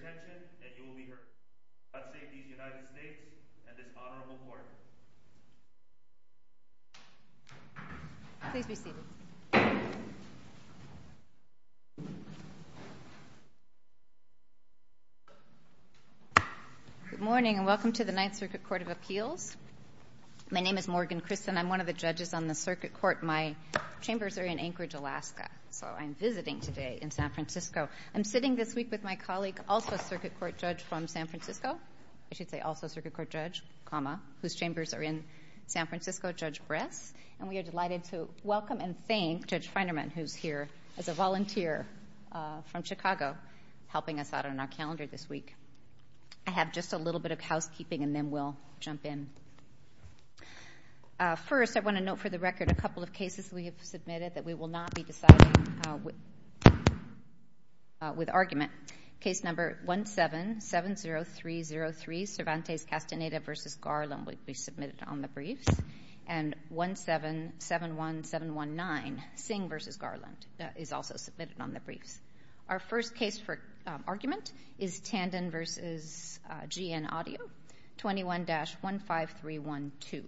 Good morning and welcome to the Ninth Circuit Court of Appeals. My name is Morgan Christen. I'm one of the judges on the circuit court. My chambers are in Anchorage, Alaska, so I'm visiting today in San Francisco. I'm sitting this week with my colleague, also a circuit court judge from San Francisco, I should say also a circuit court judge, comma, whose chambers are in San Francisco, Judge Bress. And we are delighted to welcome and thank Judge Feinerman, who's here as a volunteer from Chicago, helping us out on our calendar this week. I have just a little bit of housekeeping and then we'll jump in. First, I want to note for the record a couple of cases we have submitted that we will not be deciding with argument. Case number 1770303, Cervantes Castaneda v. Garland, will be submitted on the briefs. And 1771719, Singh v. Garland, is also submitted on the briefs. Our first case for argument is Tandon v. GN Audio, 21-15312.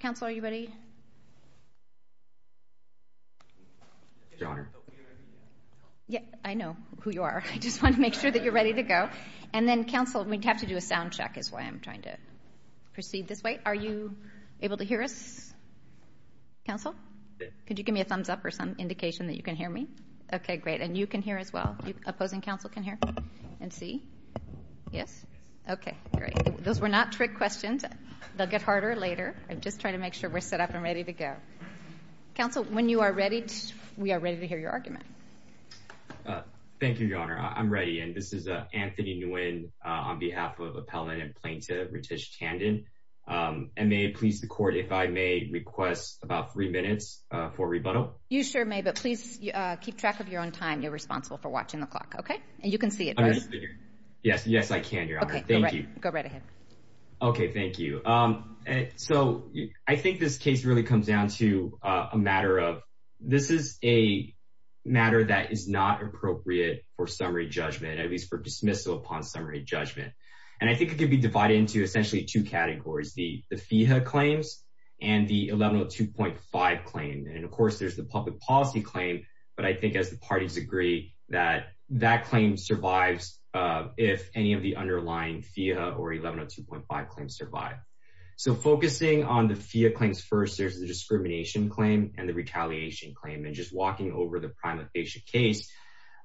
Counsel, are you ready? I know who you are. I just want to make sure that you're ready to go. And then, counsel, we'd have to do a sound check is why I'm trying to proceed this way. Are you able to hear us, counsel? Could you give me a thumbs up or some indication that you can hear me? Okay, great. And you can hear as well? The opposing counsel can hear and see? Yes? Okay, great. Those were not trick questions. They'll get harder later. I'm just trying to make sure we're set up and ready to go. Counsel, when you are ready, we are ready to hear your argument. Thank you, Your Honor. I'm ready. And this is Anthony Nguyen on behalf of Appellant and Plaintiff Ritesh Tandon. And may it please the court if I may request about three minutes for rebuttal? You sure may, but please keep track of your own time. You're responsible for watching the clock. Okay? And you can see it, right? Yes, I can, Your Honor. Thank you. Go right ahead. Okay, thank you. So I think this case really comes down to a matter of this is a matter that is not appropriate for summary judgment, at least for dismissal upon summary judgment. And I think it can be divided into essentially two categories, the FEHA claims and the 1102.5 claim. And, of course, there's the public policy claim. But I think, as the parties agree, that that claim survives if any of the underlying FEHA or 1102.5 claims survive. So focusing on the FEHA claims first, there's the discrimination claim and the retaliation claim. And just walking over the prima facie case,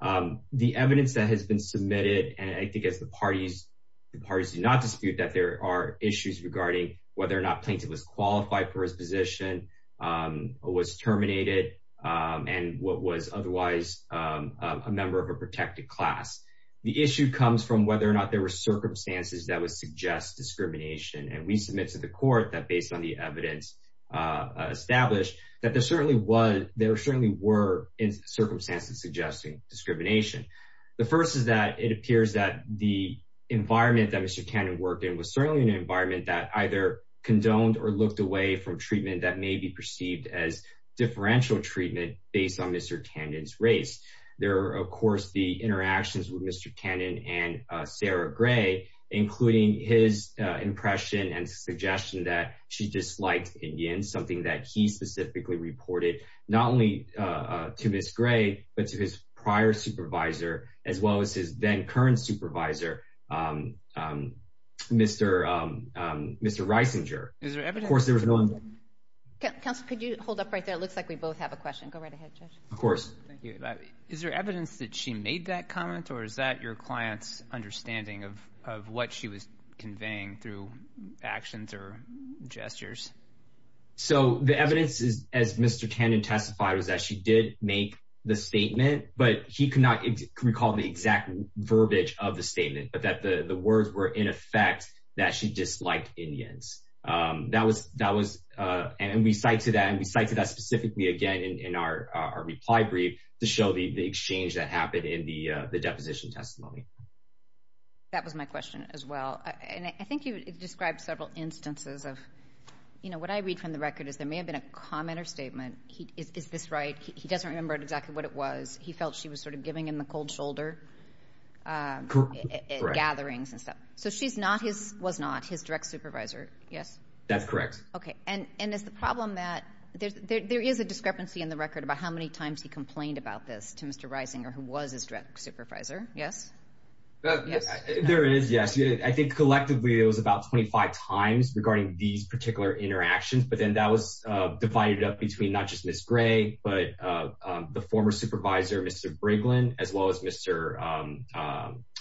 the evidence that has been submitted, and I think as the parties do not dispute that there are issues regarding whether or not Plaintiff was qualified for his position, was terminated, and was otherwise a member of a protected class. The issue comes from whether or not there were circumstances that would suggest discrimination. And we submit to the court that, based on the evidence established, that there certainly were circumstances suggesting discrimination. The first is that it appears that the environment that Mr. Cannon worked in was certainly an environment that either condoned or looked away from treatment that may be perceived as differential treatment based on Mr. Cannon's race. There are, of course, the interactions with Mr. Cannon and Sarah Gray, including his impression and suggestion that she disliked Indians, something that he specifically reported, not only to Ms. Gray, but to his prior supervisor, as well as his then-current supervisor, Mr. Reisinger. Is there evidence that she made that comment, or is that your client's understanding of what she was conveying through actions or gestures? So the evidence, as Mr. Cannon testified, was that she did make the statement, but he could not recall the exact verbiage of the statement, but that the words were, in effect, that she disliked Indians. And we cite to that, and we cite to that specifically again in our reply brief to show the exchange that happened in the deposition testimony. That was my question as well. And I think you described several instances of, you know, what I read from the record is there may have been a comment or statement. Is this right? He doesn't remember exactly what it was. He felt she was sort of giving him the cold shoulder gatherings and stuff. So she's not, was not his direct supervisor, yes? That's correct. Okay. And is the problem that there is a discrepancy in the record about how many times he complained about this to Mr. Reisinger, who was his direct supervisor, yes? There is, yes. I think collectively it was about 25 times regarding these particular interactions, but then that was divided up between not just Ms. Gray, but the former supervisor, Mr. Brinkman, as well as Mr.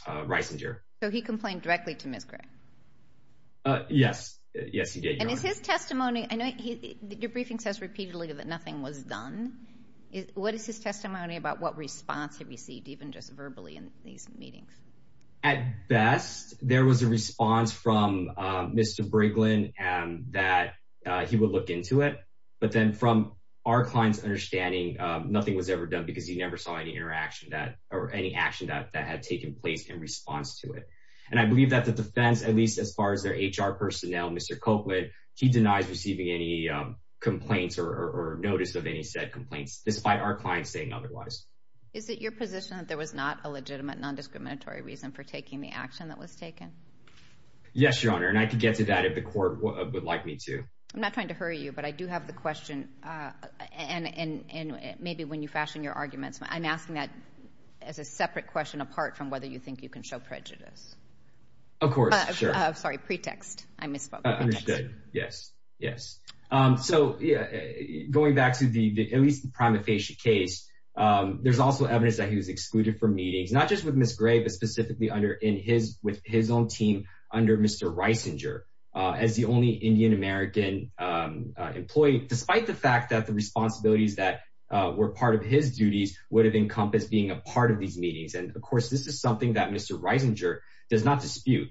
Reisinger. So he complained directly to Ms. Gray? Yes. Yes, he did, Your Honor. And is his testimony, I know your briefing says repeatedly that nothing was done. What is his testimony about what response he received even just verbally in these meetings? At best, there was a response from Mr. Brinkman that he would look into it, but then from our client's understanding, nothing was ever done because he never saw any interaction that, or any action that had taken place in response to it. And I believe that the defense, at least as far as their HR personnel, Mr. Copeland, he denies receiving any complaints or notice of any said complaints, despite our client saying otherwise. Is it your position that there was not a legitimate non-discriminatory reason for taking the action that was taken? Yes, Your Honor, and I could get to that if the court would like me to. I'm not trying to hurry you, but I do have the question, and maybe when you fashion your arguments, I'm asking that as a separate question apart from whether you think you can show prejudice. Of course, sure. Sorry, pretext. I misspoke. Understood. Yes, yes. So going back to at least the prima facie case, there's also evidence that he was excluded from meetings, not just with Ms. Gray, but specifically with his own team under Mr. Reisinger as the only Indian American employee, despite the fact that the responsibilities that were part of his duties would have encompassed being a part of these meetings. And, of course, this is something that Mr. Reisinger does not dispute.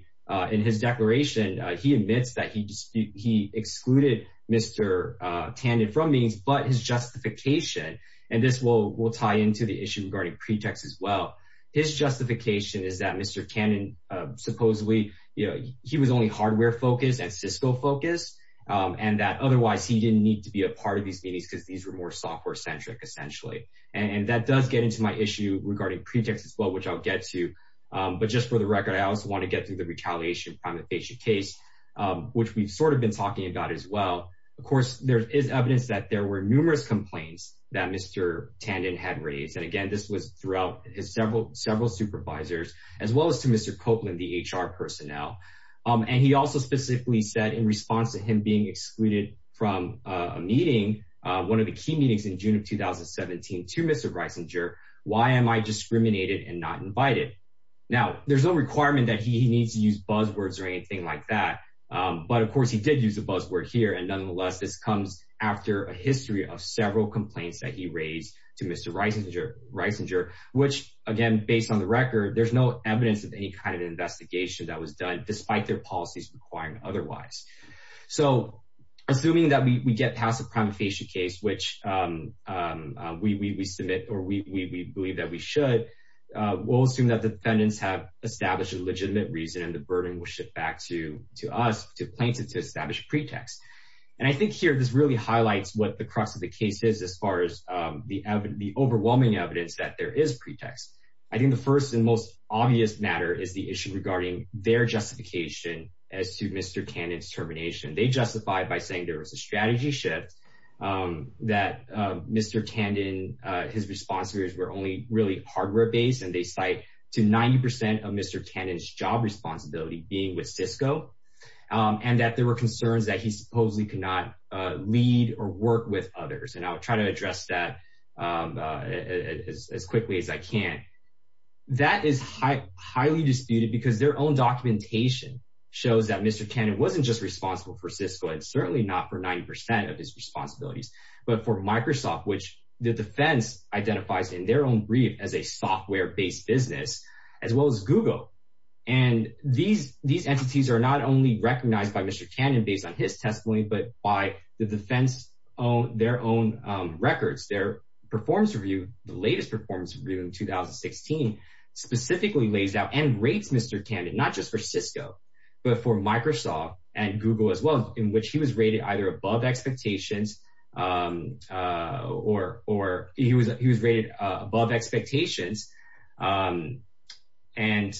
In his declaration, he admits that he excluded Mr. Tandon from meetings, but his justification, and this will tie into the issue regarding pretext as well, his justification is that Mr. Tandon supposedly, you know, he was only hardware-focused and Cisco-focused, and that otherwise he didn't need to be a part of these meetings because these were more software-centric, essentially. And that does get into my issue regarding pretext as well, which I'll get to. But just for the record, I also want to get to the retaliation prima facie case, which we've sort of been talking about as well. Of course, there is evidence that there were numerous complaints that Mr. Tandon had raised. And, again, this was throughout his several supervisors, as well as to Mr. Copeland, the HR personnel. And he also specifically said in response to him being excluded from a meeting, one of the key meetings in June of 2017, to Mr. Reisinger, why am I discriminated and not invited? Now, there's no requirement that he needs to use buzzwords or anything like that. But, of course, he did use a buzzword here. And, nonetheless, this comes after a history of several complaints that he raised to Mr. Reisinger, which, again, based on the record, there's no evidence of any kind of investigation that was done, despite their policies requiring otherwise. So assuming that we get past the prima facie case, which we submit or we believe that we should, we'll assume that the defendants have established a legitimate reason and the burden will shift back to us to establish a pretext. And I think here this really highlights what the crux of the case is, as far as the overwhelming evidence that there is pretext. I think the first and most obvious matter is the issue regarding their justification as to Mr. Tandon's termination. They justified by saying there was a strategy shift, that Mr. Tandon, his responsibilities were only really hardware-based, and they cite to 90% of Mr. Tandon's job responsibility being with Cisco, and that there were concerns that he supposedly could not lead or work with others. And I'll try to address that as quickly as I can. That is highly disputed because their own documentation shows that Mr. Tandon was responsible for Cisco and certainly not for 90% of his responsibilities, but for Microsoft, which the defense identifies in their own brief as a software-based business, as well as Google. And these entities are not only recognized by Mr. Tandon based on his testimony, but by the defense on their own records, their performance review, the latest performance review in 2016, specifically lays out and rates Mr. Tandon, not just for Cisco, but for Microsoft and Google as well, in which he was rated either above expectations or he was rated above expectations. And their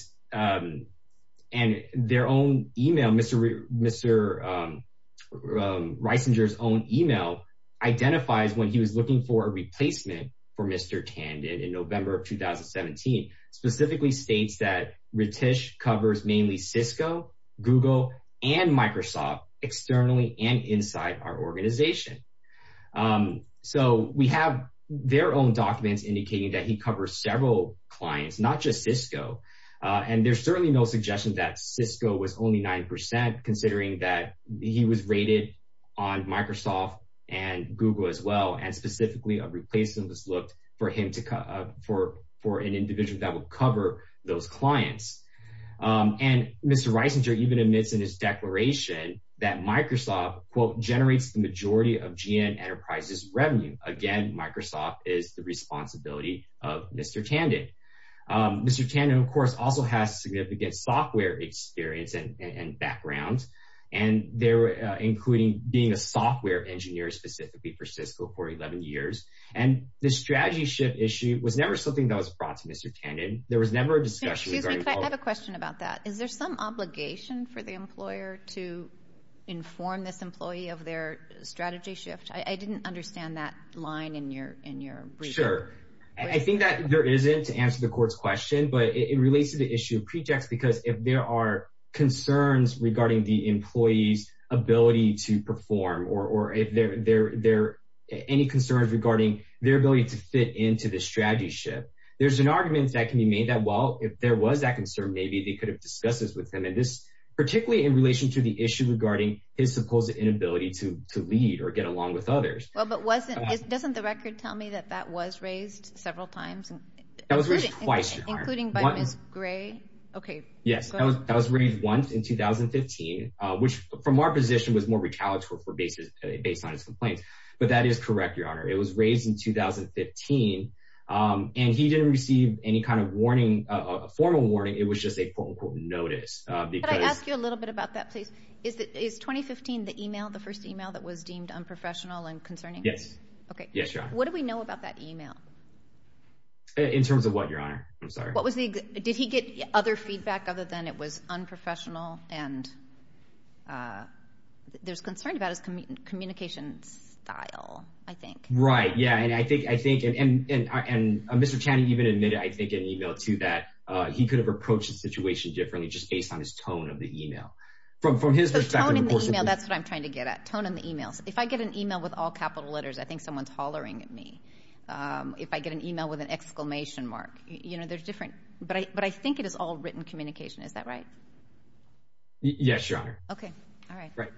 own email, Mr. Reisinger's own email identifies when he was looking for a replacement for Mr. Tandon in November of 2017, specifically states that Ritesh covers mainly Cisco, Google, and Microsoft externally and inside our organization. So we have their own documents indicating that he covers several clients, not just Cisco. And there's certainly no suggestion that Cisco was only 90% considering that he was rated on Microsoft and Google as well. And specifically a replacement was looked for him to, for, for an individual that will cover those clients. And Mr. Reisinger even admits in his declaration that Microsoft quote generates the majority of GN enterprises revenue. Again, Microsoft is the responsibility of Mr. Tandon. Mr. Tandon of course also has significant software experience and, and background. And they're including being a software engineer specifically for Cisco for 11 years. And the strategy shift issue was never something that was brought to Mr. Tandon. There was never a discussion. I have a question about that. Is there some obligation for the employer to inform this employee of their strategy shift? I didn't understand that line in your, in your. Sure. I think that there isn't to answer the court's question, but it relates to the issue of prejects, because if there are concerns regarding the employee's ability to perform or, or if there, there, there any concerns regarding their ability to fit into the strategy shift, there's an argument that can be made that well, if there was that concern, maybe they could have discussed this with them. And this, particularly in relation to the issue regarding his supposed inability to, to lead or get along with others. Well, but wasn't it, doesn't the record tell me that that was raised several times. That was raised twice, including by Ms. Gray. Okay. Yes. That was raised once in 2015, which from our position was more recalitrant for basis based on his complaints. But that is correct. Your honor, it was raised in 2015. And he didn't receive any kind of warning, a formal warning. It was just a quote unquote notice. I ask you a little bit about that place is that is 2015, the email, the first email that was deemed unprofessional and concerning. Yes. Okay. Yes. What do we know about that email? In terms of what your honor, I'm sorry. What was the, did he get other feedback other than it was unprofessional? And there's concern about his communication style. I think. Right. Yeah. And I think, I think, and, and, and, and Mr. Channing even admitted, I think in email too, that he could have approached the situation differently just based on his tone of the email from, from his perspective. That's what I'm trying to get at tone in the emails. If I get an email with all capital letters, I think someone's hollering at me. If I get an email with an exclamation mark, you know, there's different, but I, but I think it is all written communication. Is that right? Yes, your honor. Okay. All right. Right.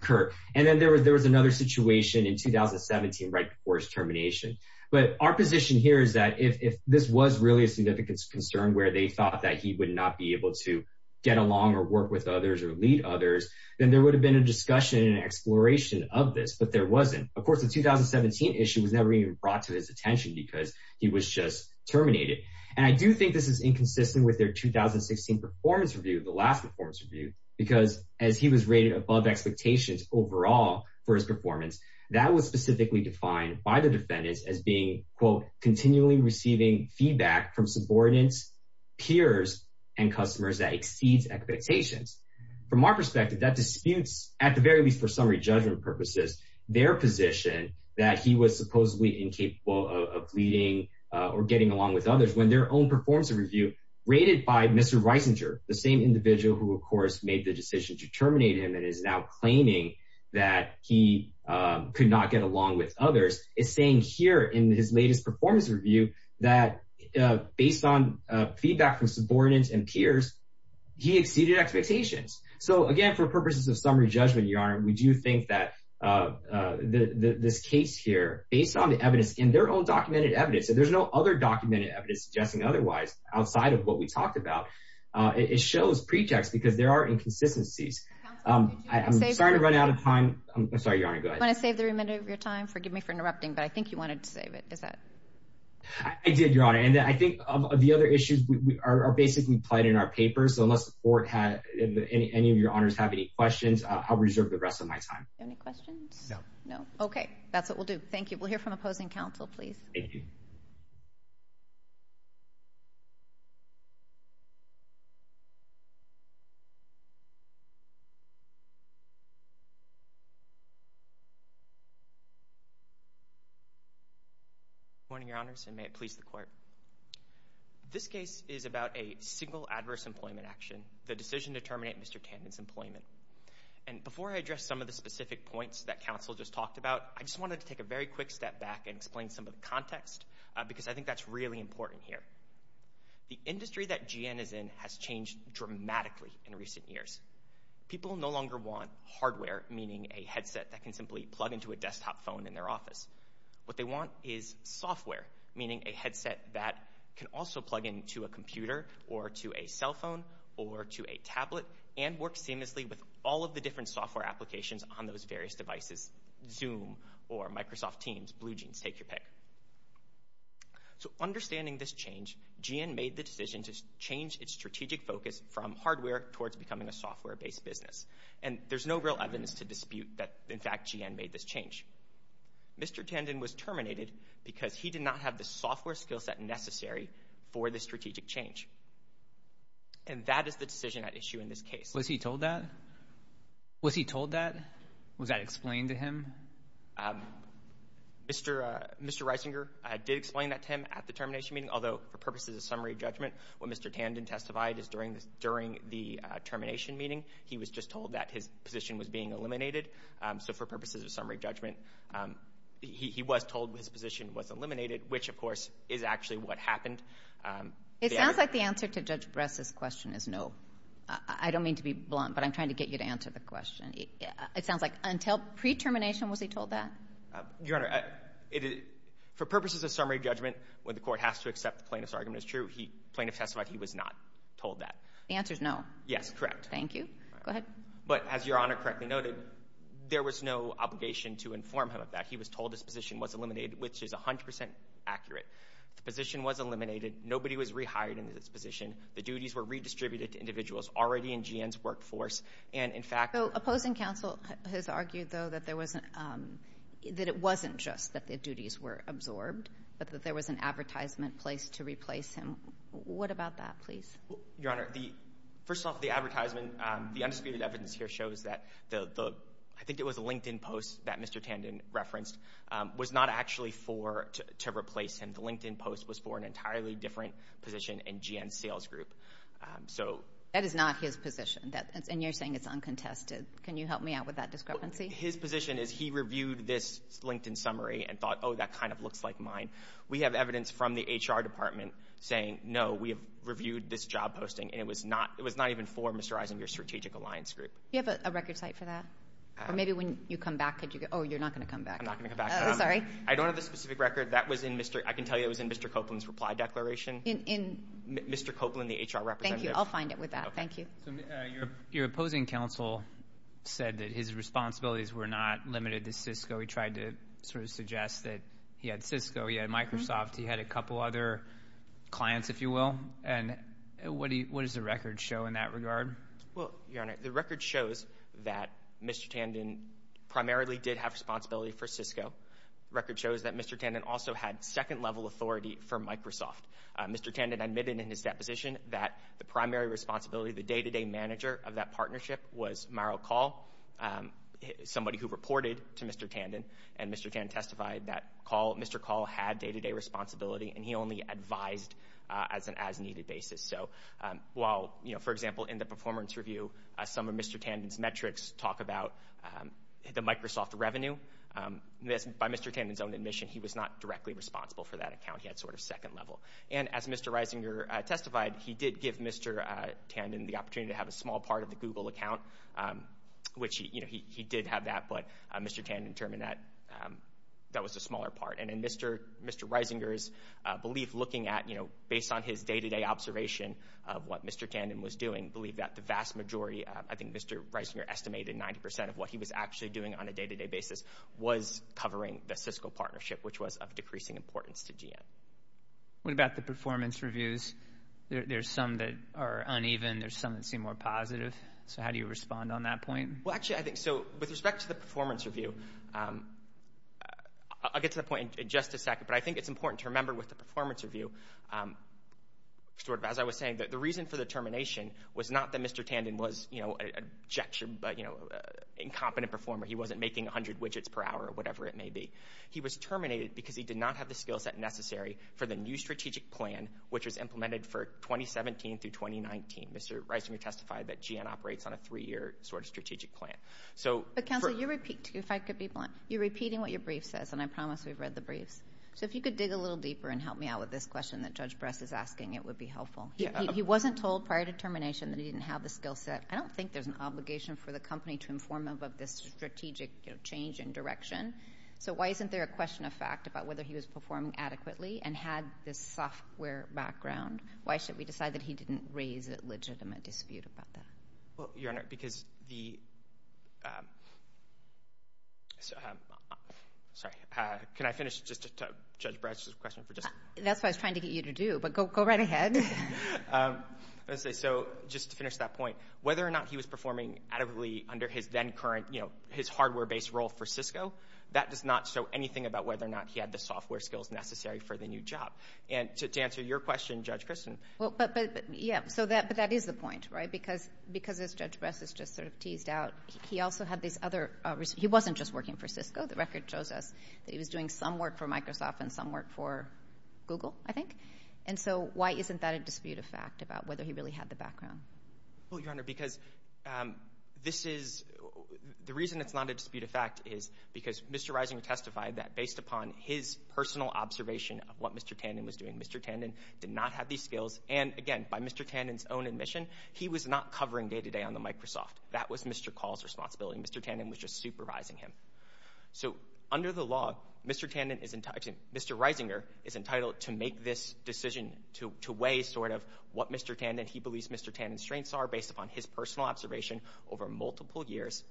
Kurt. And then there was, there was another situation in 2017 right before his termination. But our position here is that if, if this was really a significant concern where they thought that he would not be able to get along or work with others or lead others, then there would have been a discussion and exploration of this, but there wasn't, of course, the 2017 issue was never even brought to his attention because he was just terminated. And I do think this is inconsistent with their 2016 performance review. The last performance review, because as he was rated above expectations overall for his performance, that was specifically defined by the defendants as being quote, continually receiving feedback from subordinates, peers and customers that exceeds expectations. From our perspective, that disputes at the very least for summary judgment purposes, their position that he was supposedly incapable of leading or getting along with others when their own performance review rated by Mr. Reisinger, the same individual who of course made the decision to terminate him and is now claiming that he could not get along with others is saying here in his latest performance review that based on feedback from subordinates and peers, he exceeded expectations. So again, for purposes of summary judgment yarn, we do think that this case here, based on the evidence in their own documented evidence, that there's no other documented evidence suggesting otherwise outside of what we talked about. It shows pretext because there are inconsistencies. I'm sorry to run out of time. I'm sorry, your honor. I'm going to save the remainder of your time. Forgive me for interrupting, but I think you wanted to save it. Is that. I did your honor. And I think the other issues are basically played in our papers. So unless the court had any of your honors have any questions, I'll reserve the rest of my time. Any questions? No. No. Okay. That's what we'll do. Thank you. We'll hear from opposing council, please. Thank you. Morning, your honors. And may it please the court. This case is about a single adverse employment action. The decision to terminate Mr. Tandon's employment. And before I address some of the specific points that council just talked about, I just wanted to take a very quick step back and explain some of the context because I think that's really important here. The industry that GN is in has changed dramatically in recent years. People no longer want hardware, meaning a headset that can simply plug into a desktop phone in their office. What they want is software, meaning a headset that can also plug into a computer or to a cell phone or to a tablet and work seamlessly with all of the different software applications on those various devices, zoom or Microsoft teams, blue jeans, take your pick. So understanding this change, GN made the decision to change its strategic focus from hardware towards becoming a software based business. And there's no real evidence to dispute that in fact GN made this change. Mr. Tandon was terminated because he did not have the software skill set necessary for the strategic change. And that is the decision at issue in this case. Mr. Reisinger did explain that to him at the termination meeting, although for purposes of summary judgment, what Mr. Tandon testified is during the termination meeting, he was just told that his position was being eliminated. So for purposes of summary judgment, he was told his position was eliminated, which of course is actually what happened. It sounds like the answer to Judge Bress's question is no. I don't mean to be blunt, but I'm trying to get you to answer the question. It sounds like until pre-termination was he told that? Your Honor, for purposes of summary judgment, when the court has to accept the plaintiff's argument is true, the plaintiff testified he was not told that. The answer is no. Yes, correct. Thank you. Go ahead. But as Your Honor correctly noted, there was no obligation to inform him of that. He was told his position was eliminated, which is 100% accurate. The position was eliminated. Nobody was rehired into this position. The duties were redistributed to individuals already in GN's workforce. And in fact— Opposing counsel has argued, though, that it wasn't just that the duties were absorbed, but that there was an advertisement placed to replace him. What about that, please? Your Honor, first off, the advertisement, the undisputed evidence here shows that the— I think it was the LinkedIn post that Mr. Tandon referenced was not actually to replace him. The LinkedIn post was for an entirely different position in GN's sales group. That is not his position. And you're saying it's uncontested. Can you help me out with that discrepancy? His position is he reviewed this LinkedIn summary and thought, oh, that kind of looks like mine. We have evidence from the HR department saying, no, we have reviewed this job posting, and it was not even for Mr. Eisenberg's strategic alliance group. Do you have a record site for that? Or maybe when you come back could you— Oh, you're not going to come back. I'm not going to come back. Sorry. I don't have the specific record. That was in Mr.— I can tell you it was in Mr. Copeland's reply declaration. In— Mr. Copeland, the HR representative. Thank you. I'll find it with that. Thank you. Your opposing counsel said that his responsibilities were not limited to Cisco. He tried to sort of suggest that he had Cisco, he had Microsoft, he had a couple other clients, if you will. And what does the record show in that regard? Well, Your Honor, the record shows that Mr. Tandon primarily did have responsibility for Cisco. The record shows that Mr. Tandon also had second-level authority for Microsoft. Mr. Tandon admitted in his deposition that the primary responsibility, the day-to-day manager of that partnership, was Maro Kahl, somebody who reported to Mr. Tandon. And Mr. Tandon testified that Mr. Kahl had day-to-day responsibility, and he only advised as an as-needed basis. So while, you know, for example, in the performance review, some of Mr. Tandon's metrics talk about the Microsoft revenue, by Mr. Tandon's own admission he was not directly responsible for that account. He had sort of second-level. And as Mr. Reisinger testified, he did give Mr. Tandon the opportunity to have a small part of the Google account, which, you know, he did have that, but Mr. Tandon determined that that was the smaller part. And in Mr. Reisinger's belief, looking at, you know, based on his day-to-day observation of what Mr. Tandon was doing, he believed that the vast majority, I think Mr. Reisinger estimated 90 percent of what he was actually doing on a day-to-day basis, was covering the Cisco partnership, which was of decreasing importance to GM. What about the performance reviews? There's some that are uneven. There's some that seem more positive. So how do you respond on that point? Well, actually, I think so. With respect to the performance review, I'll get to that point in just a second, but I think it's important to remember with the performance review, sort of as I was saying, that the reason for the termination was not that Mr. Tandon was, you know, an incompetent performer. He wasn't making 100 widgets per hour or whatever it may be. He was terminated because he did not have the skill set necessary for the new strategic plan, which was implemented for 2017 through 2019. Mr. Reisinger testified that GM operates on a three-year sort of strategic plan. But, counsel, you're repeating what your brief says, and I promise we've read the briefs. So if you could dig a little deeper and help me out with this question that Judge Bress is asking, it would be helpful. He wasn't told prior to termination that he didn't have the skill set. I don't think there's an obligation for the company to inform him of this strategic change in direction. So why isn't there a question of fact about whether he was performing adequately and had this software background? Why should we decide that he didn't raise a legitimate dispute about that? Well, Your Honor, because the – sorry. Can I finish just to – Judge Bress's question for just – That's what I was trying to get you to do, but go right ahead. Let's see. So just to finish that point, whether or not he was performing adequately under his then current, you know, his hardware-based role for Cisco, that does not show anything about whether or not he had the software skills necessary for the new job. And to answer your question, Judge Christin. But, yeah, so that is the point, right? Because as Judge Bress has just sort of teased out, he also had these other – he wasn't just working for Cisco. The record shows us that he was doing some work for Microsoft and some work for Google, I think. And so why isn't that a dispute of fact about whether he really had the background? Well, Your Honor, because this is – the reason it's not a dispute of fact is because Mr. Reisinger testified that, based upon his personal observation of what Mr. Tandon was doing, Mr. Tandon did not have these skills. And, again, by Mr. Tandon's own admission, he was not covering day-to-day on the Microsoft. That was Mr. Call's responsibility. Mr. Tandon was just supervising him. So, under the law, Mr. Tandon is – excuse me, Mr. Reisinger is entitled to make this decision to weigh sort of what Mr. Tandon – he believes Mr. Tandon's strengths are, based upon his personal observation over multiple years.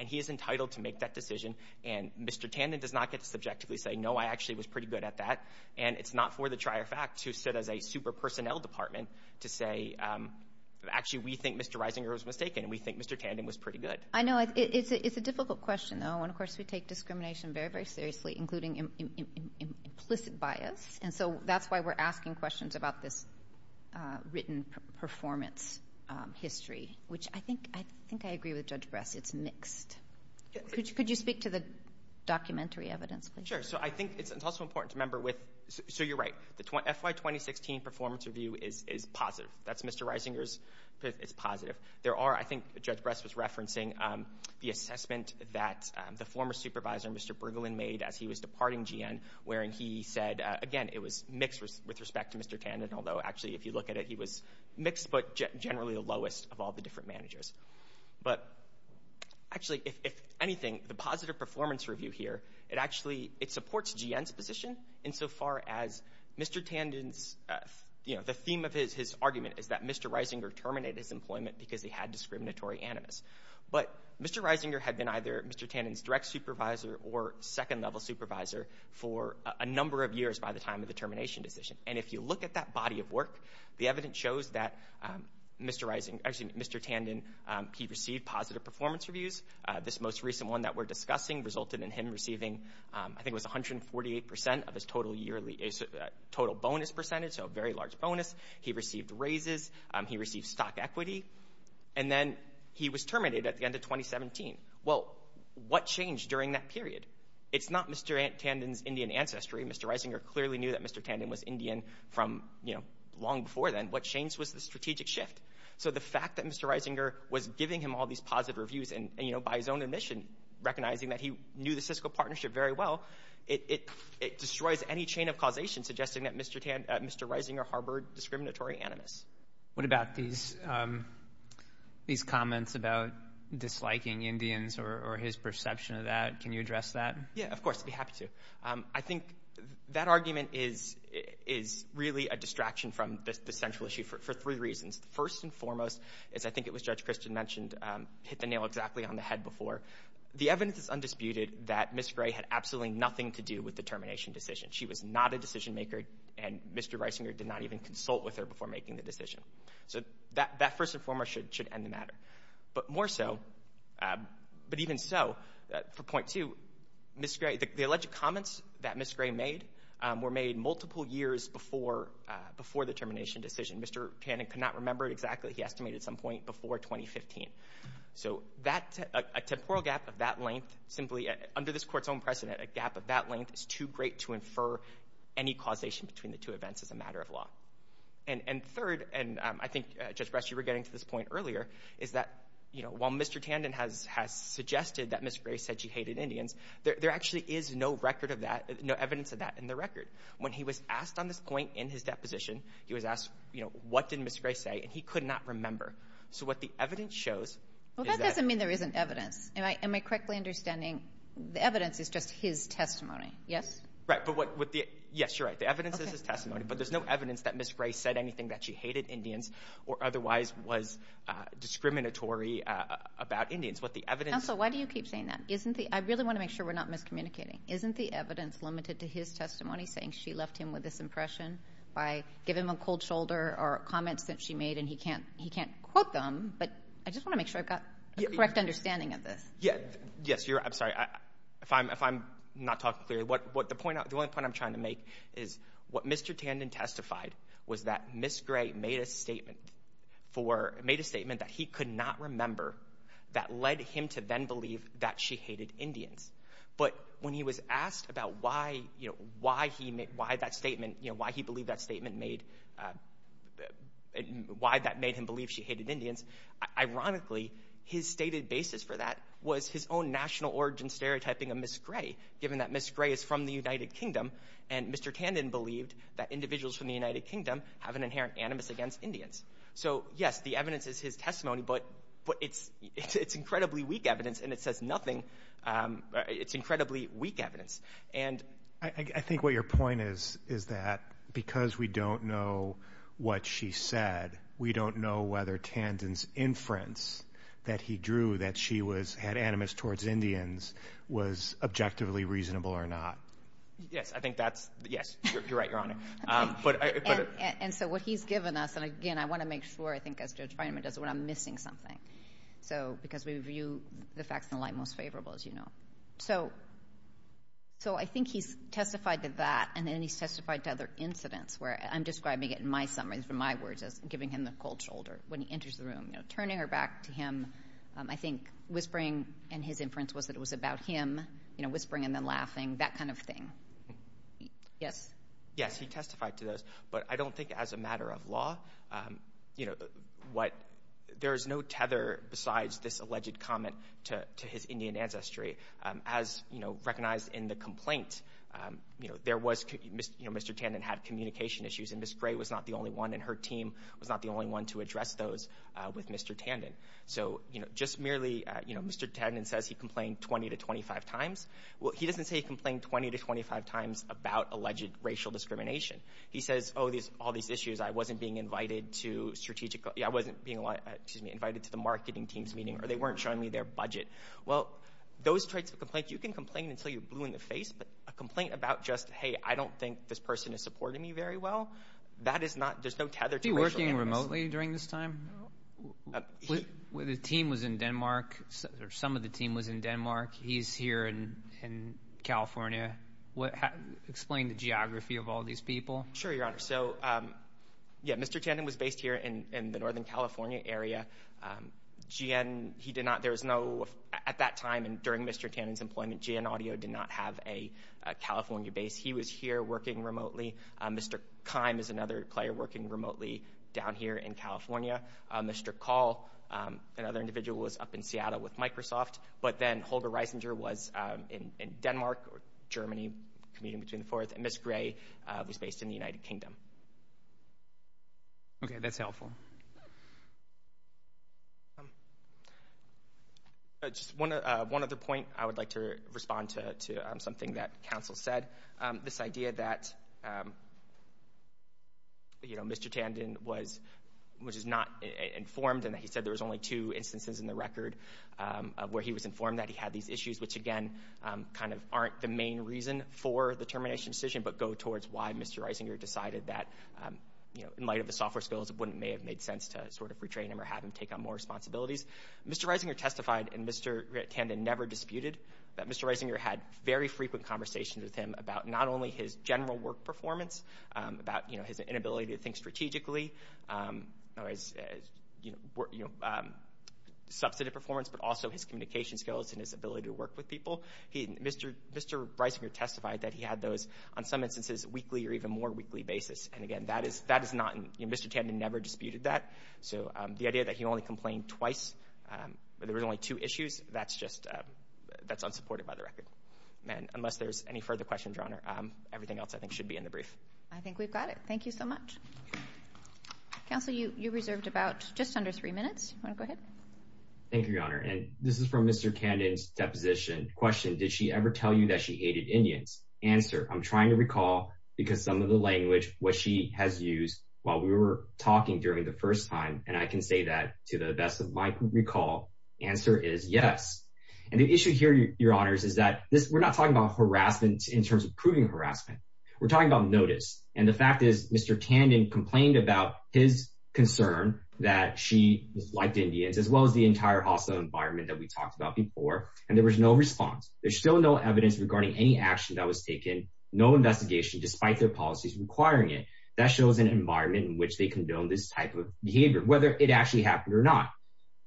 And he is entitled to make that decision. And Mr. Tandon does not get to subjectively say, no, I actually was pretty good at that. And it's not for the trier fact to sit as a super-personnel department to say, actually, we think Mr. Reisinger was mistaken and we think Mr. Tandon was pretty good. I know it's a difficult question, though. And, of course, we take discrimination very, very seriously, including implicit bias. And so that's why we're asking questions about this written performance history, which I think I agree with Judge Bress. It's mixed. Could you speak to the documentary evidence, please? Sure. So I think it's also important to remember with – so you're right. The FY 2016 performance review is positive. That's Mr. Reisinger's – it's positive. There are – I think Judge Bress was referencing the assessment that the former supervisor, Mr. Brigolin, made as he was departing GN, wherein he said – again, it was mixed with respect to Mr. Tandon, although, actually, if you look at it, he was mixed but generally the lowest of all the different managers. But, actually, if anything, the positive performance review here, it actually – it supports GN's position insofar as Mr. Tandon's – is that Mr. Reisinger terminated his employment because he had discriminatory animus. But Mr. Reisinger had been either Mr. Tandon's direct supervisor or second-level supervisor for a number of years by the time of the termination decision. And if you look at that body of work, the evidence shows that Mr. Reisinger – actually, Mr. Tandon, he received positive performance reviews. This most recent one that we're discussing resulted in him receiving – I think it was 148 percent of his total bonus percentage, so a very large bonus. He received raises. He received stock equity. And then he was terminated at the end of 2017. Well, what changed during that period? It's not Mr. Tandon's Indian ancestry. Mr. Reisinger clearly knew that Mr. Tandon was Indian from, you know, long before then. What changed was the strategic shift. So the fact that Mr. Reisinger was giving him all these positive reviews and, you know, by his own admission, recognizing that he knew the Cisco partnership very well, it destroys any chain of causation suggesting that Mr. Reisinger harbored discriminatory animus. What about these comments about disliking Indians or his perception of that? Can you address that? Yeah, of course. I'd be happy to. I think that argument is really a distraction from the central issue for three reasons. First and foremost, as I think it was Judge Christian mentioned, hit the nail exactly on the head before. The evidence is undisputed that Ms. Gray had absolutely nothing to do with the termination decision. She was not a decision maker, and Mr. Reisinger did not even consult with her before making the decision. So that first and foremost should end the matter. But more so, but even so, for point two, Ms. Gray, the alleged comments that Ms. Gray made were made multiple years before the termination decision. Mr. Tandon could not remember exactly. He estimated at some point before 2015. So a temporal gap of that length, simply under this Court's own precedent, a gap of that length is too great to infer any causation between the two events as a matter of law. And third, and I think, Judge Bresch, you were getting to this point earlier, is that while Mr. Tandon has suggested that Ms. Gray said she hated Indians, there actually is no record of that, no evidence of that in the record. When he was asked on this point in his deposition, he was asked, what did Ms. Gray say, and he could not remember. So what the evidence shows is that— Well, that doesn't mean there isn't evidence. Am I correctly understanding the evidence is just his testimony, yes? Right, but what the—yes, you're right, the evidence is his testimony, but there's no evidence that Ms. Gray said anything that she hated Indians or otherwise was discriminatory about Indians. What the evidence— Counsel, why do you keep saying that? Isn't the—I really want to make sure we're not miscommunicating. Isn't the evidence limited to his testimony saying she left him with this impression by giving him a cold shoulder or comments that she made and he can't quote them? But I just want to make sure I've got a correct understanding of this. Yes, you're—I'm sorry, if I'm not talking clearly, the only point I'm trying to make is what Mr. Tandon testified was that Ms. Gray made a statement that he could not remember that led him to then believe that she hated Indians. But when he was asked about why he made—why that statement— why he believed that statement made—why that made him believe she hated Indians, ironically, his stated basis for that was his own national origin stereotyping of Ms. Gray, given that Ms. Gray is from the United Kingdom, and Mr. Tandon believed that individuals from the United Kingdom have an inherent animus against Indians. So, yes, the evidence is his testimony, but it's incredibly weak evidence and it says nothing—it's incredibly weak evidence. And— I think what your point is is that because we don't know what she said, we don't know whether Tandon's inference that he drew that she was— had animus towards Indians was objectively reasonable or not. Yes, I think that's—yes, you're right. You're on it. And so what he's given us—and again, I want to make sure, I think, as Judge Fineman does when I'm missing something, because we view the facts in the light most favorable, as you know. So I think he's testified to that, and then he's testified to other incidents where—I'm describing it in my summaries, in my words, as giving him the cold shoulder when he enters the room, you know, turning her back to him. I think whispering in his inference was that it was about him, you know, whispering and then laughing, that kind of thing. Yes? Well, you know, what—there is no tether besides this alleged comment to his Indian ancestry. As, you know, recognized in the complaint, you know, there was— you know, Mr. Tandon had communication issues, and Ms. Gray was not the only one, and her team was not the only one to address those with Mr. Tandon. So, you know, just merely, you know, Mr. Tandon says he complained 20 to 25 times. Well, he doesn't say he complained 20 to 25 times about alleged racial discrimination. He says, oh, all these issues, I wasn't being invited to strategic— I wasn't being invited to the marketing team's meeting, or they weren't showing me their budget. Well, those traits of complaint, you can complain until you're blue in the face, but a complaint about just, hey, I don't think this person is supporting me very well, that is not—there's no tether to racial animus. Was he working remotely during this time? The team was in Denmark, or some of the team was in Denmark. He's here in California. Explain the geography of all these people. Sure, Your Honor. So, yeah, Mr. Tandon was based here in the Northern California area. GN, he did not—there was no—at that time and during Mr. Tandon's employment, GN Audio did not have a California base. He was here working remotely. Mr. Keim is another player working remotely down here in California. Mr. Call, another individual, was up in Seattle with Microsoft, but then Holger Reisinger was in Denmark or Germany, commuting between the fours, and Ms. Gray was based in the United Kingdom. Okay, that's helpful. Just one other point. I would like to respond to something that counsel said, this idea that, you know, Mr. Tandon was—was just not informed and that he said there was only two instances in the record where he was informed that he had these issues, which, again, kind of aren't the main reason for the termination decision but go towards why Mr. Reisinger decided that, you know, in light of the software skills, it wouldn't—may have made sense to sort of retrain him or have him take on more responsibilities. Mr. Reisinger testified, and Mr. Tandon never disputed, that Mr. Reisinger had very frequent conversations with him about not only his general work performance, about, you know, his inability to think strategically, or his, you know, substantive performance, but also his communication skills and his ability to work with people. Mr. Reisinger testified that he had those on some instances weekly or even more weekly basis, and, again, that is not—you know, Mr. Tandon never disputed that, so the idea that he only complained twice, that there was only two issues, that's just—that's unsupported by the record. And unless there's any further questions, Your Honor, everything else I think should be in the brief. I think we've got it. Thank you so much. Counsel, you reserved about just under three minutes. You want to go ahead? Thank you, Your Honor, and this is from Mr. Tandon's deposition. Question, did she ever tell you that she hated Indians? Answer, I'm trying to recall because some of the language, what she has used while we were talking during the first time, and I can say that, to the best of my recall, answer is yes. And the issue here, Your Honors, is that we're not talking about harassment in terms of proving harassment. We're talking about notice, and the fact is Mr. Tandon complained about his concern that she disliked Indians, as well as the entire hostile environment that we talked about before, and there was no response. There's still no evidence regarding any action that was taken, no investigation, despite their policies requiring it. That shows an environment in which they condone this type of behavior, whether it actually happened or not.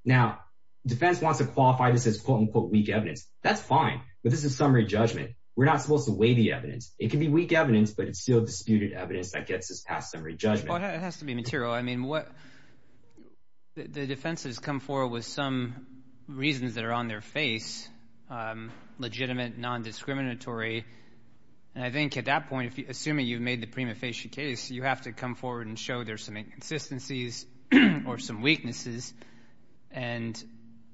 Now, defense wants to qualify this as quote-unquote weak evidence. That's fine, but this is a summary judgment. We're not supposed to weigh the evidence. It can be weak evidence, but it's still disputed evidence that gets this past summary judgment. Well, it has to be material. I mean, the defense has come forward with some reasons that are on their face, legitimate, non-discriminatory, and I think at that point, assuming you've made the prima facie case, you have to come forward and show there's some inconsistencies or some weaknesses, and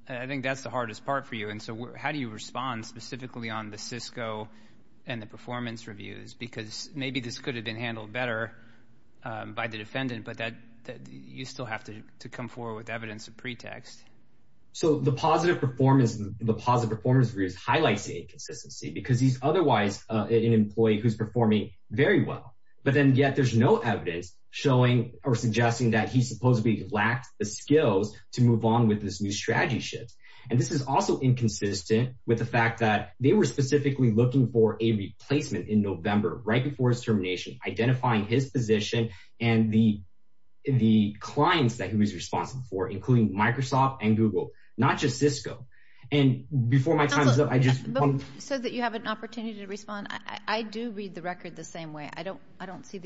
I think that's the hardest part for you. And so how do you respond specifically on the Cisco and the performance reviews? Because maybe this could have been handled better by the defendant, but you still have to come forward with evidence of pretext. So the positive performance reviews highlights the inconsistency, because he's otherwise an employee who's performing very well, but then yet there's no evidence showing or suggesting that he supposedly lacked the skills to move on with this new strategy shift. And this is also inconsistent with the fact that they were specifically looking for a replacement in November, right before his termination, identifying his position and the clients that he was responsible for, including Microsoft and Google, not just Cisco. And before my time's up, I just want to... I don't see that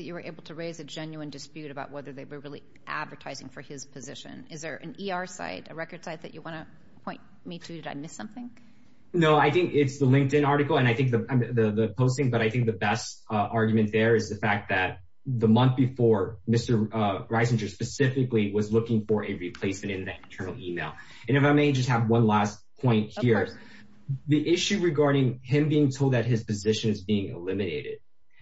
you were able to raise a genuine dispute about whether they were really advertising for his position. Is there an ER site, a record site that you want to point me to? Did I miss something? No, I think it's the LinkedIn article and I think the posting, but I think the best argument there is the fact that the month before, Mr. Greisinger specifically was looking for a replacement in that internal email. And if I may just have one last point here. The issue regarding him being told that his position is being eliminated,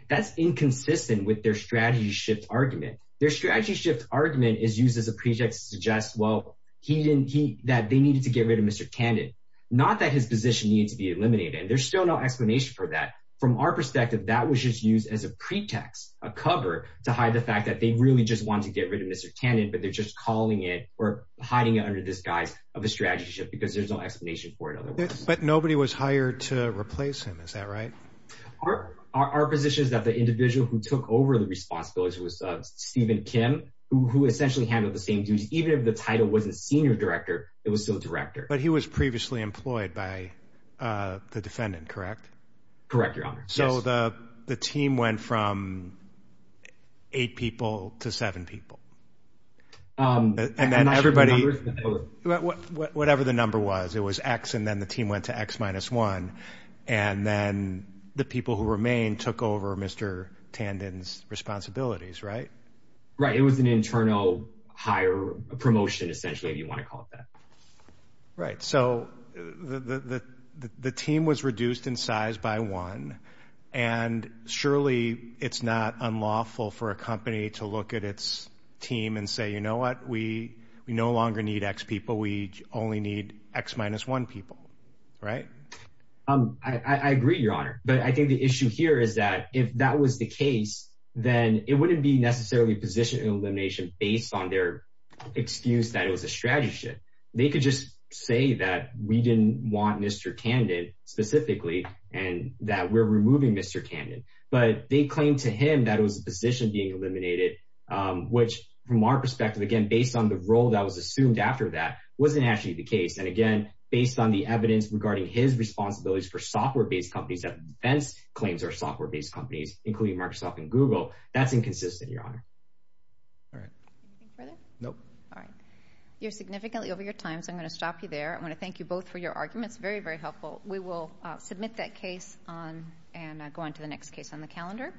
that's inconsistent with their strategy shift argument. Their strategy shift argument is used as a pretext to suggest, well, that they needed to get rid of Mr. Tandon, not that his position needs to be eliminated. And there's still no explanation for that. From our perspective, that was just used as a pretext, a cover, to hide the fact that they really just wanted to get rid of Mr. Tandon, but they're just calling it or hiding it under disguise of a strategy shift because there's no explanation for it otherwise. But nobody was hired to replace him. Is that right? Our position is that the individual who took over the responsibilities was Stephen Kim, who essentially handled the same duties. Even if the title wasn't senior director, it was still director. But he was previously employed by the defendant, correct? Correct, Your Honor. So the team went from eight people to seven people. And then everybody, whatever the number was, it was X. And then the team went to X minus one. And then the people who remained took over Mr. Tandon's responsibilities, right? Right. It was an internal hire promotion, essentially, if you want to call it that. Right. So the team was reduced in size by one. And surely it's not unlawful for a company to look at its team and say, you know what, we we no longer need X people. We only need X minus one people. Right. I agree, Your Honor. But I think the issue here is that if that was the case, then it wouldn't be necessarily positioned in elimination based on their excuse that it was a strategy shift. They could just say that we didn't want Mr. Tandon specifically and that we're removing Mr. Tandon, but they claim to him that it was a position being eliminated, which from our perspective, again, based on the role that was assumed after that wasn't actually the case. And again, based on the evidence regarding his responsibilities for software based companies, that Vince claims are software based companies, including Microsoft and Google. That's inconsistent, Your Honor. All right. No. All right. You're significantly over your time, so I'm going to stop you there. I want to thank you both for your arguments. Very, very helpful. We will submit that case and go on to the next case on the calendar.